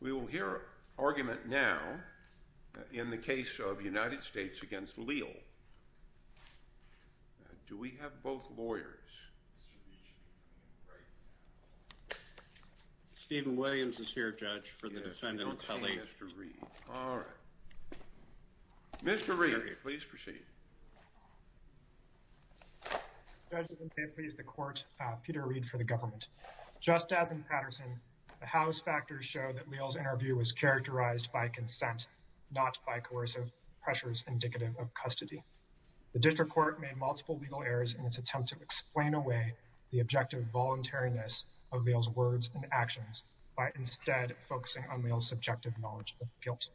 We will hear an argument now in the case of United States v. Leal. Do we have both lawyers? Stephen Williams is here, Judge, for the defendant's appellate. Mr. Reed, all right. Mr. Reed, please proceed. Peter Reed Judge, if it pleases the court, Peter Reed for the government. Just as in Patterson, the Howe's factors show that Leal's interview was characterized by consent, not by coercive pressures indicative of custody. The district court made multiple legal errors in its attempt to explain away the objective voluntariness of Leal's words and actions by instead focusing on Leal's subjective knowledge of guilt.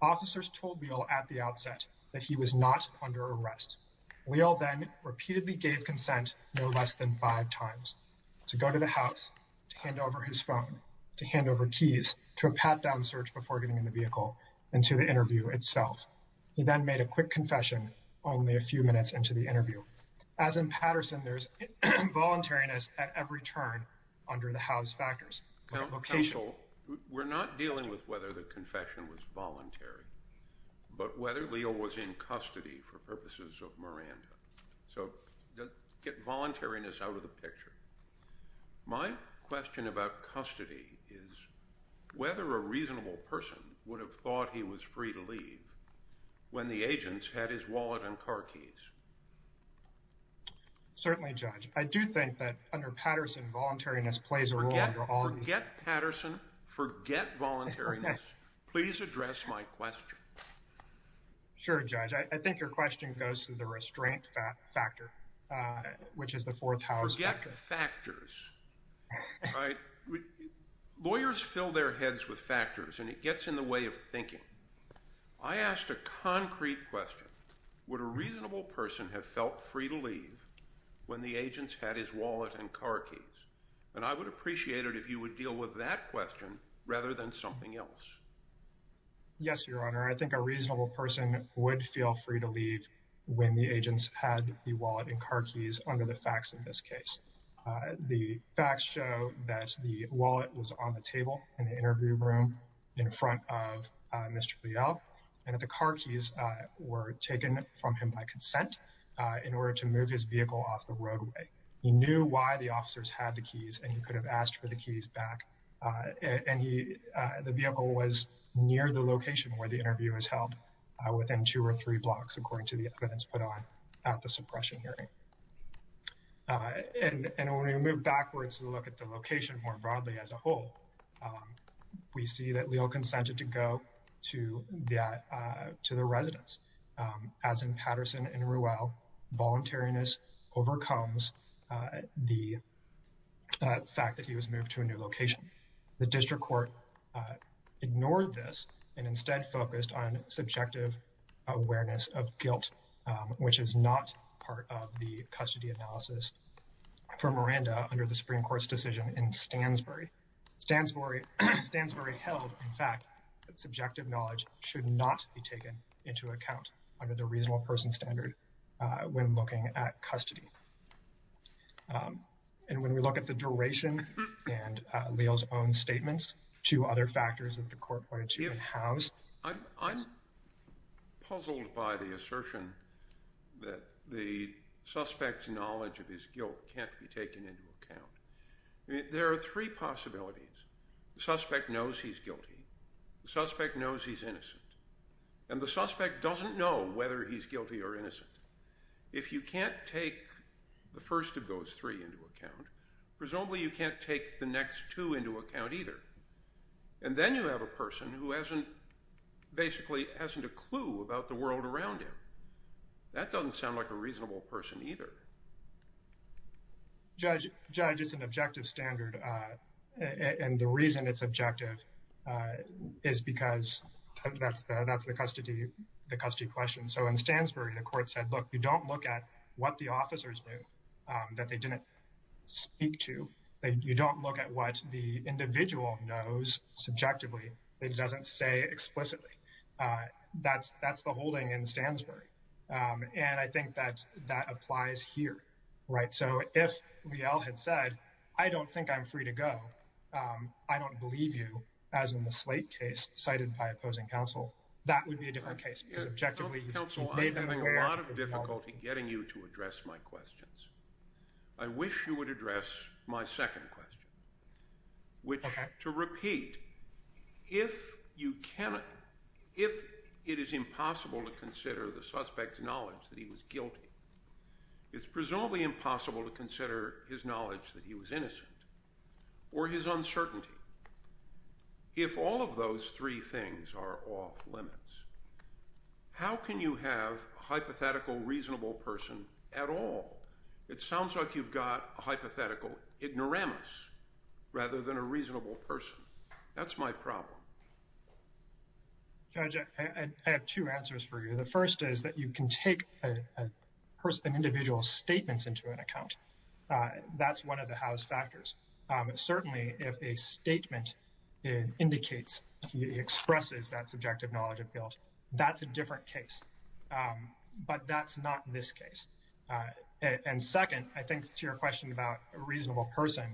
Officers told Leal at the outset that he was not under arrest. Leal then repeatedly gave consent no less than five times to go to the house, to hand over his phone, to hand over keys, to a pat-down search before getting in the vehicle and to the interview itself. So, as in Patterson, there's involuntariness at every turn under the Howe's factors. Counsel, we're not dealing with whether the confession was voluntary, but whether Leal was in custody for purposes of Miranda. So get voluntariness out of the picture. My question about custody is whether a reasonable person would have thought he was free to leave when the agents had his wallet and car keys. Certainly, Judge. I do think that under Patterson, voluntariness plays a role under all of these. Forget Patterson. Forget voluntariness. Please address my question. Sure, Judge. I think your question goes to the restraint factor, which is the fourth Howe's factor. Forget factors. Right? Lawyers fill their heads with factors, and it gets in the way of thinking. I asked a concrete question. Would a reasonable person have felt free to leave when the agents had his wallet and car keys? And I would appreciate it if you would deal with that question rather than something else. Yes, Your Honor. I think a reasonable person would feel free to leave when the agents had the wallet and car keys under the facts in this case. The facts show that the wallet was on the table in the interview room in front of Mr. Leal, and that the car keys were taken from him by consent in order to move his vehicle off the roadway. He knew why the officers had the keys, and he could have asked for the keys back, and the vehicle was near the location where the interview was held, within two or three blocks according to the evidence put on at the suppression hearing. And when we move backwards and look at the location more broadly as a whole, we see that Leal consented to go to the residence. As in Patterson and Ruel, voluntariness overcomes the fact that he was moved to a new location. The district court ignored this and instead focused on subjective awareness of guilt, which is not part of the custody analysis for Miranda under the Supreme Court's decision in Stansbury. Stansbury held, in fact, that subjective knowledge should not be taken into account under the reasonable person standard when looking at custody. And when we look at the duration and Leal's own statements, two other factors that the court pointed to in Howe's case. I'm puzzled by the assertion that the suspect's knowledge of his guilt can't be taken into account. I mean, there are three possibilities. The suspect knows he's guilty, the suspect knows he's innocent, and the suspect doesn't know whether he's guilty or innocent. If you can't take the first of those three into account, presumably you can't take the next two into account either. And then you have a person who hasn't, basically hasn't a clue about the world around him. That doesn't sound like a reasonable person either. Judge, it's an objective standard. And the reason it's objective is because that's the custody question. So in Stansbury, the court said, look, you don't look at what the officers do that they didn't speak to. You don't look at what the individual knows subjectively. It doesn't say explicitly. That's the holding in Stansbury. And I think that that applies here, right? So if Leal had said, I don't think I'm free to go, I don't believe you, as in the Slate case cited by opposing counsel, that would be a different case because objectively he's made them aware. Counsel, I'm having a lot of difficulty getting you to address my questions. I wish you would address my second question, which, to repeat, if you cannot, if it is impossible to consider the suspect's knowledge that he was guilty, it's presumably impossible to consider his knowledge that he was innocent or his uncertainty. If all of those three things are off limits, how can you have a hypothetical reasonable person at all? It sounds like you've got a hypothetical ignoramus rather than a reasonable person. That's my problem. Judge, I have two answers for you. The first is that you can take an individual's statements into an account. That's one of the house factors. Certainly, if a statement indicates, expresses that subjective knowledge of guilt, that's a different case. But that's not this case. And second, I think to your question about a reasonable person,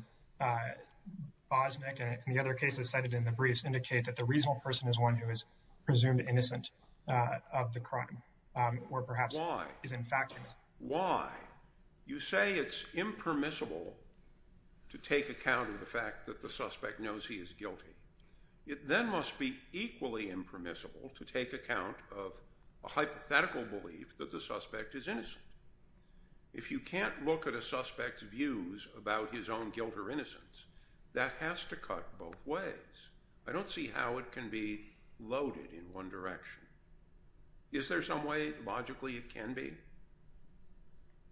Bosnick and the other cases cited in the briefs indicate that the reasonable person is one who is presumed innocent of the crime or perhaps is, in fact, innocent. Why? You say it's impermissible to take account of the fact that the suspect knows he is guilty. It then must be equally impermissible to take account of a hypothetical belief that the suspect is innocent. If you can't look at a suspect's views about his own guilt or innocence, that has to cut both ways. I don't see how it can be loaded in one direction. Is there some way, logically, it can be?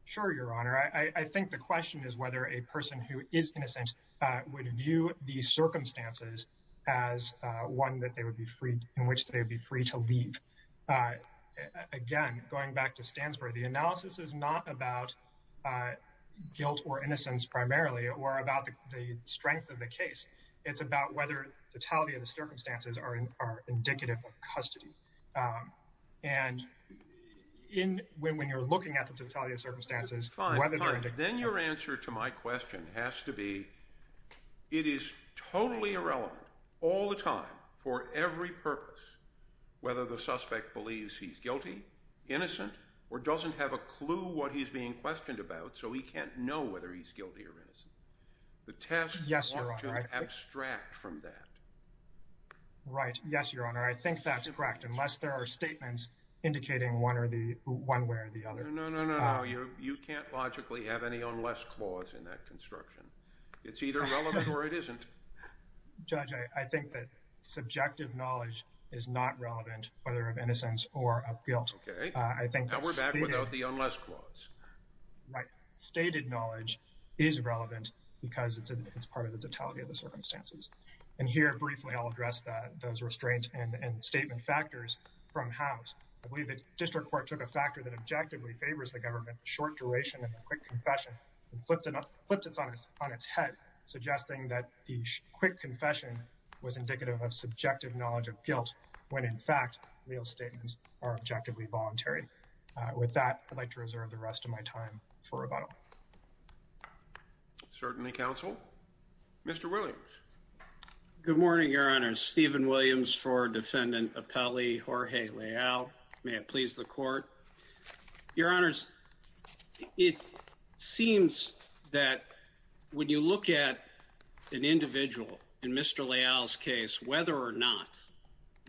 Sure, Your Honor. I think the question is whether a person who is innocent would view these circumstances as one in which they would be free to leave. Again, going back to Stansbury, the analysis is not about guilt or innocence primarily or about the strength of the case. It's about whether the totality of the circumstances are indicative of custody. And when you're looking at the totality of circumstances, whether they're indicative of custody... Fine, fine. Then your answer to my question has to be, it is totally irrelevant, all the time, for every purpose, whether the suspect believes he's guilty, innocent, or doesn't have a clue what he's being questioned about, so he can't know whether he's guilty or innocent. The test... Yes, Your Honor. You want to abstract from that. Right. Yes, Your Honor. I think that's correct, unless there are statements indicating one way or the other. No, no, no. You can't logically have any unless clause in that construction. It's either relevant or it isn't. Judge, I think that subjective knowledge is not relevant, whether of innocence or of guilt. Okay. Now we're back without the unless clause. Right. But the fact that it's stated knowledge is relevant because it's part of the totality of the circumstances. And here, briefly, I'll address those restraint and statement factors from House. I believe that District Court took a factor that objectively favors the government, the short duration of a quick confession, and flipped it on its head, suggesting that the quick confession was indicative of subjective knowledge of guilt, when in fact, real statements are objectively voluntary. With that, I'd like to reserve the rest of my time for rebuttal. Certainly, counsel. Mr. Williams. Good morning, Your Honors. Stephen Williams for Defendant Appellee Jorge Leal. May it please the Court. Your Honors, it seems that when you look at an individual, in Mr. Leal's case, whether or not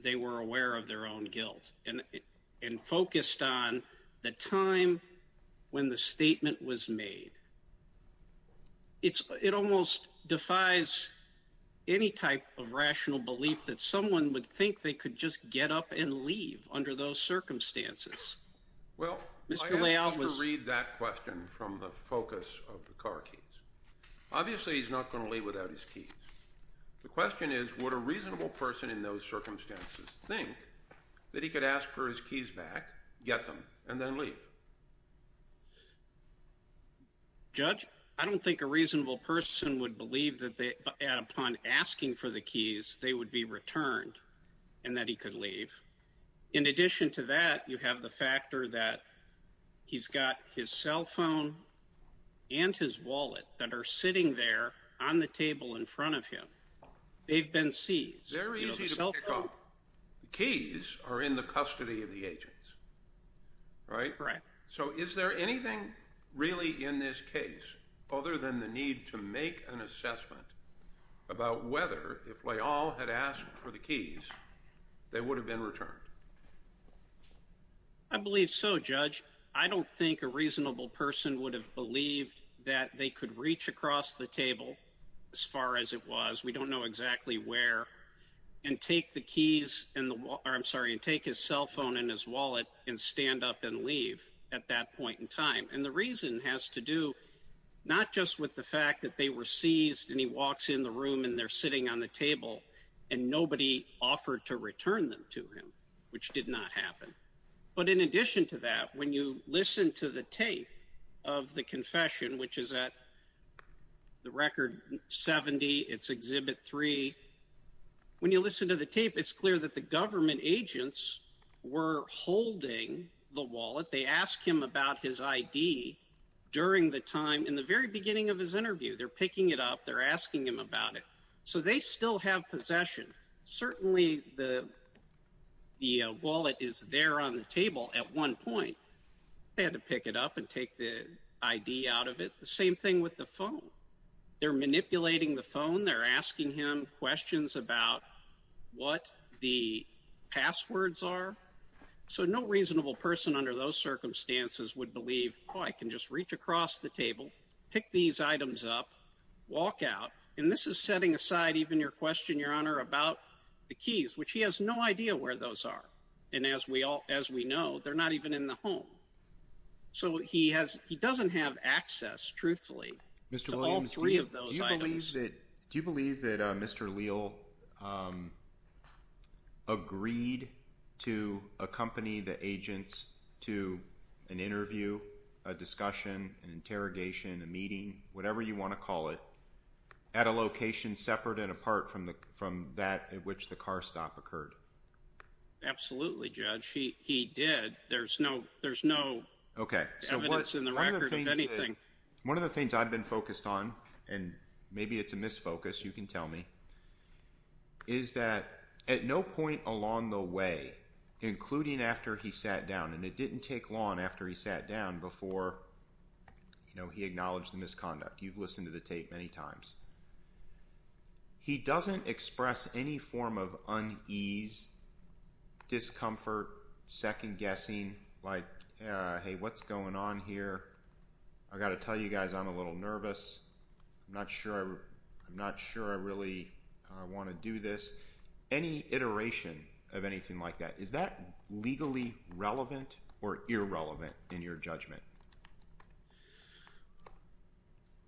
they were aware of their own guilt and focused on the time when the statement was made, it almost defies any type of rational belief that someone would think they could just get up and leave under those circumstances. Well, I have to read that question from the focus of the car keys. Obviously, he's not going to leave without his keys. The question is, would a reasonable person in those circumstances think that he could ask for his keys back, get them, and then leave? Judge, I don't think a reasonable person would believe that upon asking for the keys, they would be returned and that he could leave. In addition to that, you have the factor that he's got his cell phone and his wallet that are on the table in front of him. They've been seized. The cell phone? Very easy to pick up. The keys are in the custody of the agents. Right? Correct. So is there anything really in this case other than the need to make an assessment about whether if Leal had asked for the keys, they would have been returned? I believe so, Judge. I don't think a reasonable person would have believed that they could reach across the table, as far as it was, we don't know exactly where, and take his cell phone and his wallet and stand up and leave at that point in time. And the reason has to do not just with the fact that they were seized and he walks in the room and they're sitting on the table and nobody offered to return them to him, which did not happen. But in addition to that, when you listen to the tape of the confession, which is at the record 70, it's Exhibit 3, when you listen to the tape, it's clear that the government agents were holding the wallet. They asked him about his ID during the time, in the very beginning of his interview. They're picking it up. They're asking him about it. So they still have possession. Certainly the wallet is there on the table at one point. They had to pick it up and take the ID out of it. The same thing with the phone. They're manipulating the phone. They're asking him questions about what the passwords are. So no reasonable person under those circumstances would believe, oh, I can just reach across the table, pick these items up, walk out. And this is setting aside even your question, Your Honor, about the keys, which he has no idea where those are. And as we know, they're not even in the home. So he doesn't have access, truthfully, to all three of those items. Mr. Williams, do you believe that Mr. Leal agreed to accompany the agents to an interview, a discussion, an interrogation, a meeting, whatever you want to call it, at a location separate and apart from that at which the car stop occurred? Absolutely, Judge. He did. There's no evidence in the record of anything. One of the things I've been focused on, and maybe it's a misfocus, you can tell me, is that at no point along the way, including after he sat down, and it didn't take long after he sat down before he acknowledged the misconduct. You've listened to the tape many times. He doesn't express any form of unease, discomfort, second-guessing, like, hey, what's going on here? I've got to tell you guys I'm a little nervous. I'm not sure I really want to do this. Any iteration of anything like that. Is that legally relevant or irrelevant in your judgment?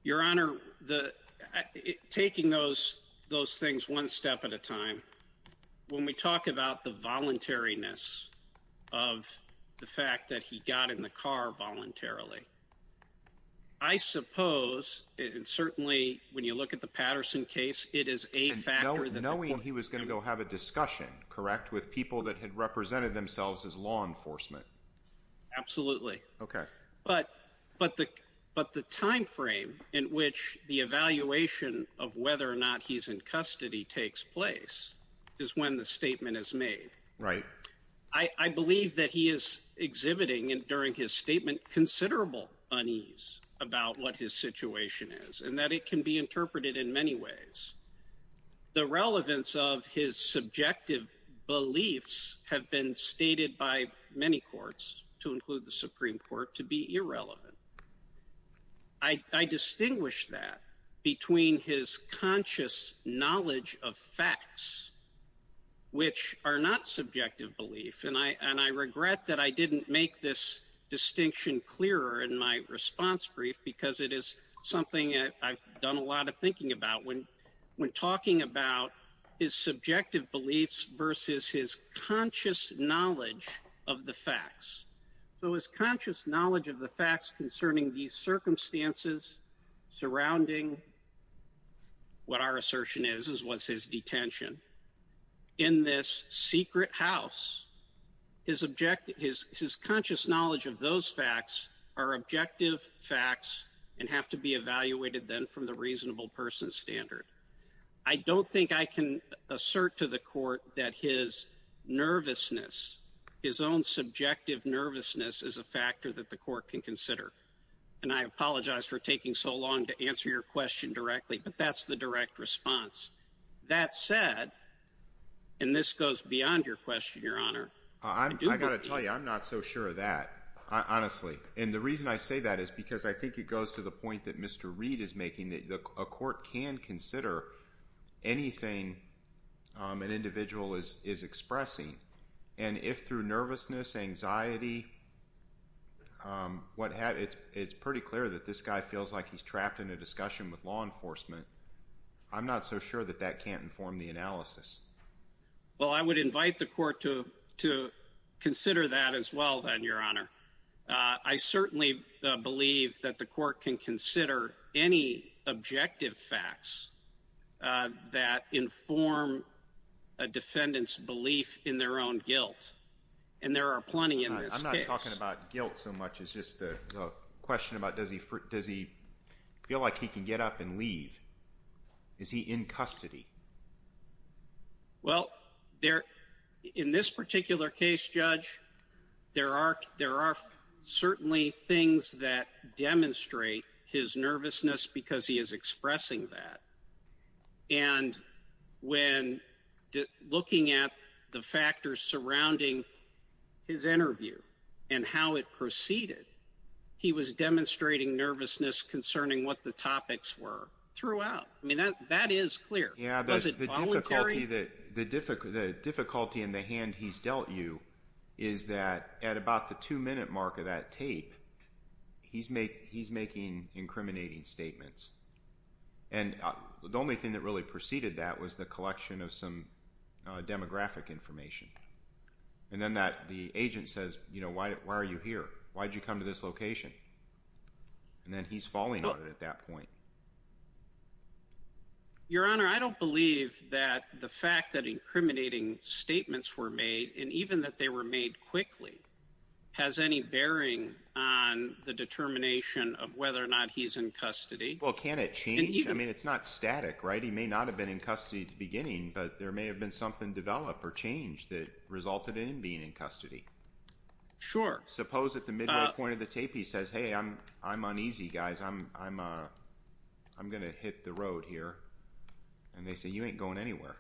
Your Honor, taking those things one step at a time, when we talk about the voluntariness of the fact that he got in the car voluntarily, I suppose, and certainly when you look at the Patterson case, it is a factor that the court— —represented themselves as law enforcement. Absolutely. Okay. But the timeframe in which the evaluation of whether or not he's in custody takes place is when the statement is made. Right. I believe that he is exhibiting, during his statement, considerable unease about what his situation is, and that it can be interpreted in many ways. The relevance of his subjective beliefs have been stated by many courts, to include the Supreme Court, to be irrelevant. I distinguish that between his conscious knowledge of facts, which are not subjective beliefs, and I regret that I didn't make this distinction clearer in my response brief, because it is something that I've done a lot of thinking about when talking about his subjective beliefs versus his conscious knowledge of the facts. So his conscious knowledge of the facts concerning these circumstances surrounding what our assertion is, is what's his detention. In this secret house, his conscious knowledge of those facts are objective facts and have to be evaluated then from the reasonable person standard. I don't think I can assert to the court that his nervousness, his own subjective nervousness, is a factor that the court can consider. And I apologize for taking so long to answer your question directly, but that's the direct response. That said, and this goes beyond your question, Your Honor. I've got to tell you, I'm not so sure of that, honestly. And the reason I say that is because I think it goes to the point that Mr. Reid is making, that a court can consider anything an individual is expressing. And if through nervousness, anxiety, it's pretty clear that this guy feels like he's trapped in a discussion with law enforcement, I'm not so sure that that can't inform the analysis. Well, I would invite the court to consider that as well then, Your Honor. I certainly believe that the court can consider any objective facts that inform a defendant's belief in their own guilt. And there are plenty in this case. I'm not talking about guilt so much. It's just a question about does he feel like he can get up and leave? Is he in custody? Well, in this particular case, Judge, there are certainly things that demonstrate his nervousness because he is expressing that. And when looking at the factors surrounding his interview and how it proceeded, he was demonstrating nervousness concerning what the topics were throughout. I mean, that is clear. Yeah. Was it voluntary? The difficulty in the hand he's dealt you is that at about the two-minute mark of that tape, he's making incriminating statements. And the only thing that really preceded that was the collection of some demographic information. And then the agent says, you know, why are you here? Why did you come to this location? And then he's falling on it at that point. Your Honor, I don't believe that the fact that incriminating statements were made, and even that they were made quickly, has any bearing on the determination of whether or not he's in custody. Well, can it change? I mean, it's not static, right? He may not have been in custody at the beginning, but there may have been something developed or changed that resulted in him being in custody. Sure. Suppose at the midway point of the tape, he says, hey, I'm uneasy, guys. I'm going to hit the road here. And they say, you ain't going anywhere.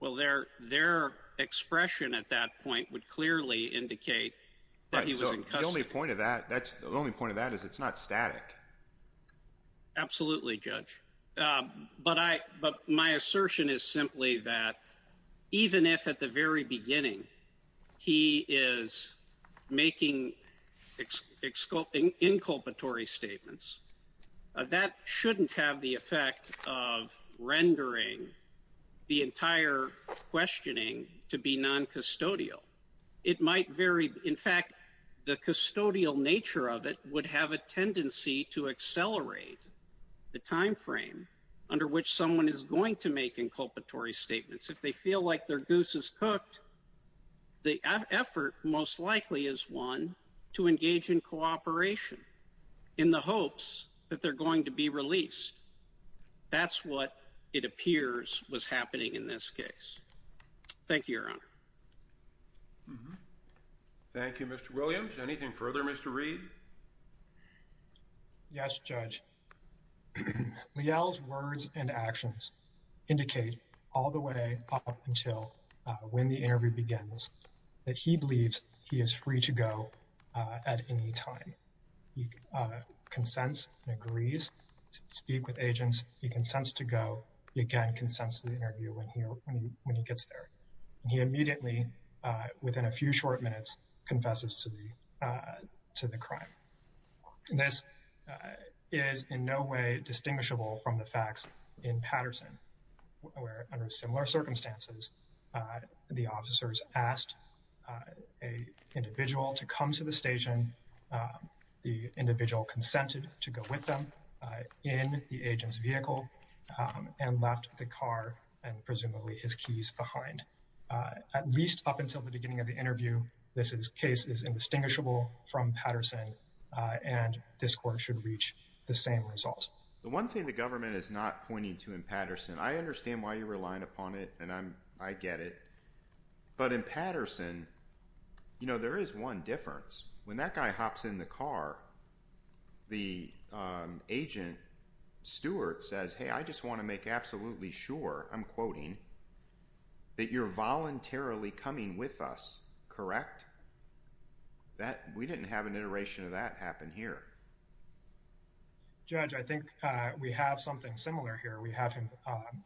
Well, their expression at that point would clearly indicate that he was in custody. The only point of that is it's not static. Absolutely, Judge. But my assertion is simply that even if at the very beginning he is making inculpatory statements, that shouldn't have the effect of rendering the entire questioning to be non-custodial. It might vary. In fact, the custodial nature of it would have a tendency to accelerate the timeframe under which someone is going to make inculpatory statements. If they feel like their goose is cooked, the effort most likely is one to engage in cooperation in the hopes that they're going to be released. That's what it appears was happening in this case. Thank you, Your Honor. Thank you, Mr. Williams. Anything further, Mr. Reed? Yes, Judge. Leal's words and actions indicate all the way up until when the interview begins that he believes he is free to go at any time. He consents and agrees to speak with agents. He consents to go. He, again, consents to the interview when he gets there. He immediately, within a few short minutes, confesses to the crime. This is in no way distinguishable from the facts in Patterson, where under similar circumstances, the officers asked an individual to come to the station. The individual consented to go with them in the agent's vehicle and left the car and presumably his keys behind. At least up until the beginning of the interview, this case is indistinguishable from Patterson and this court should reach the same result. The one thing the government is not pointing to in Patterson, I understand why you're relying upon it and I get it, but in Patterson, you know, there is one difference. When that guy hops in the car, the agent, Stuart, says, hey, I just want to make absolutely sure, I'm quoting, that you're voluntarily coming with us, correct? We didn't have an iteration of that happen here. Judge, I think we have something similar here. We have him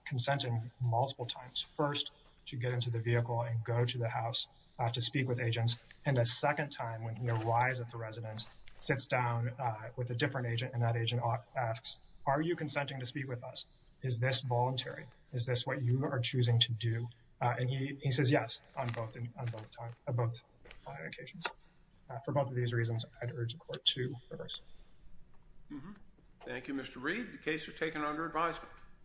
consenting multiple times. First, to get into the vehicle and go to the house to speak with agents and a second time, when he arrives at the residence, sits down with a different agent and that agent asks, are you consenting to speak with us? Is this voluntary? Is this what you are choosing to do? And he says yes on both occasions. For both of these reasons, I'd urge the court to reverse. Thank you, Mr. Reed. The case is taken under advisement.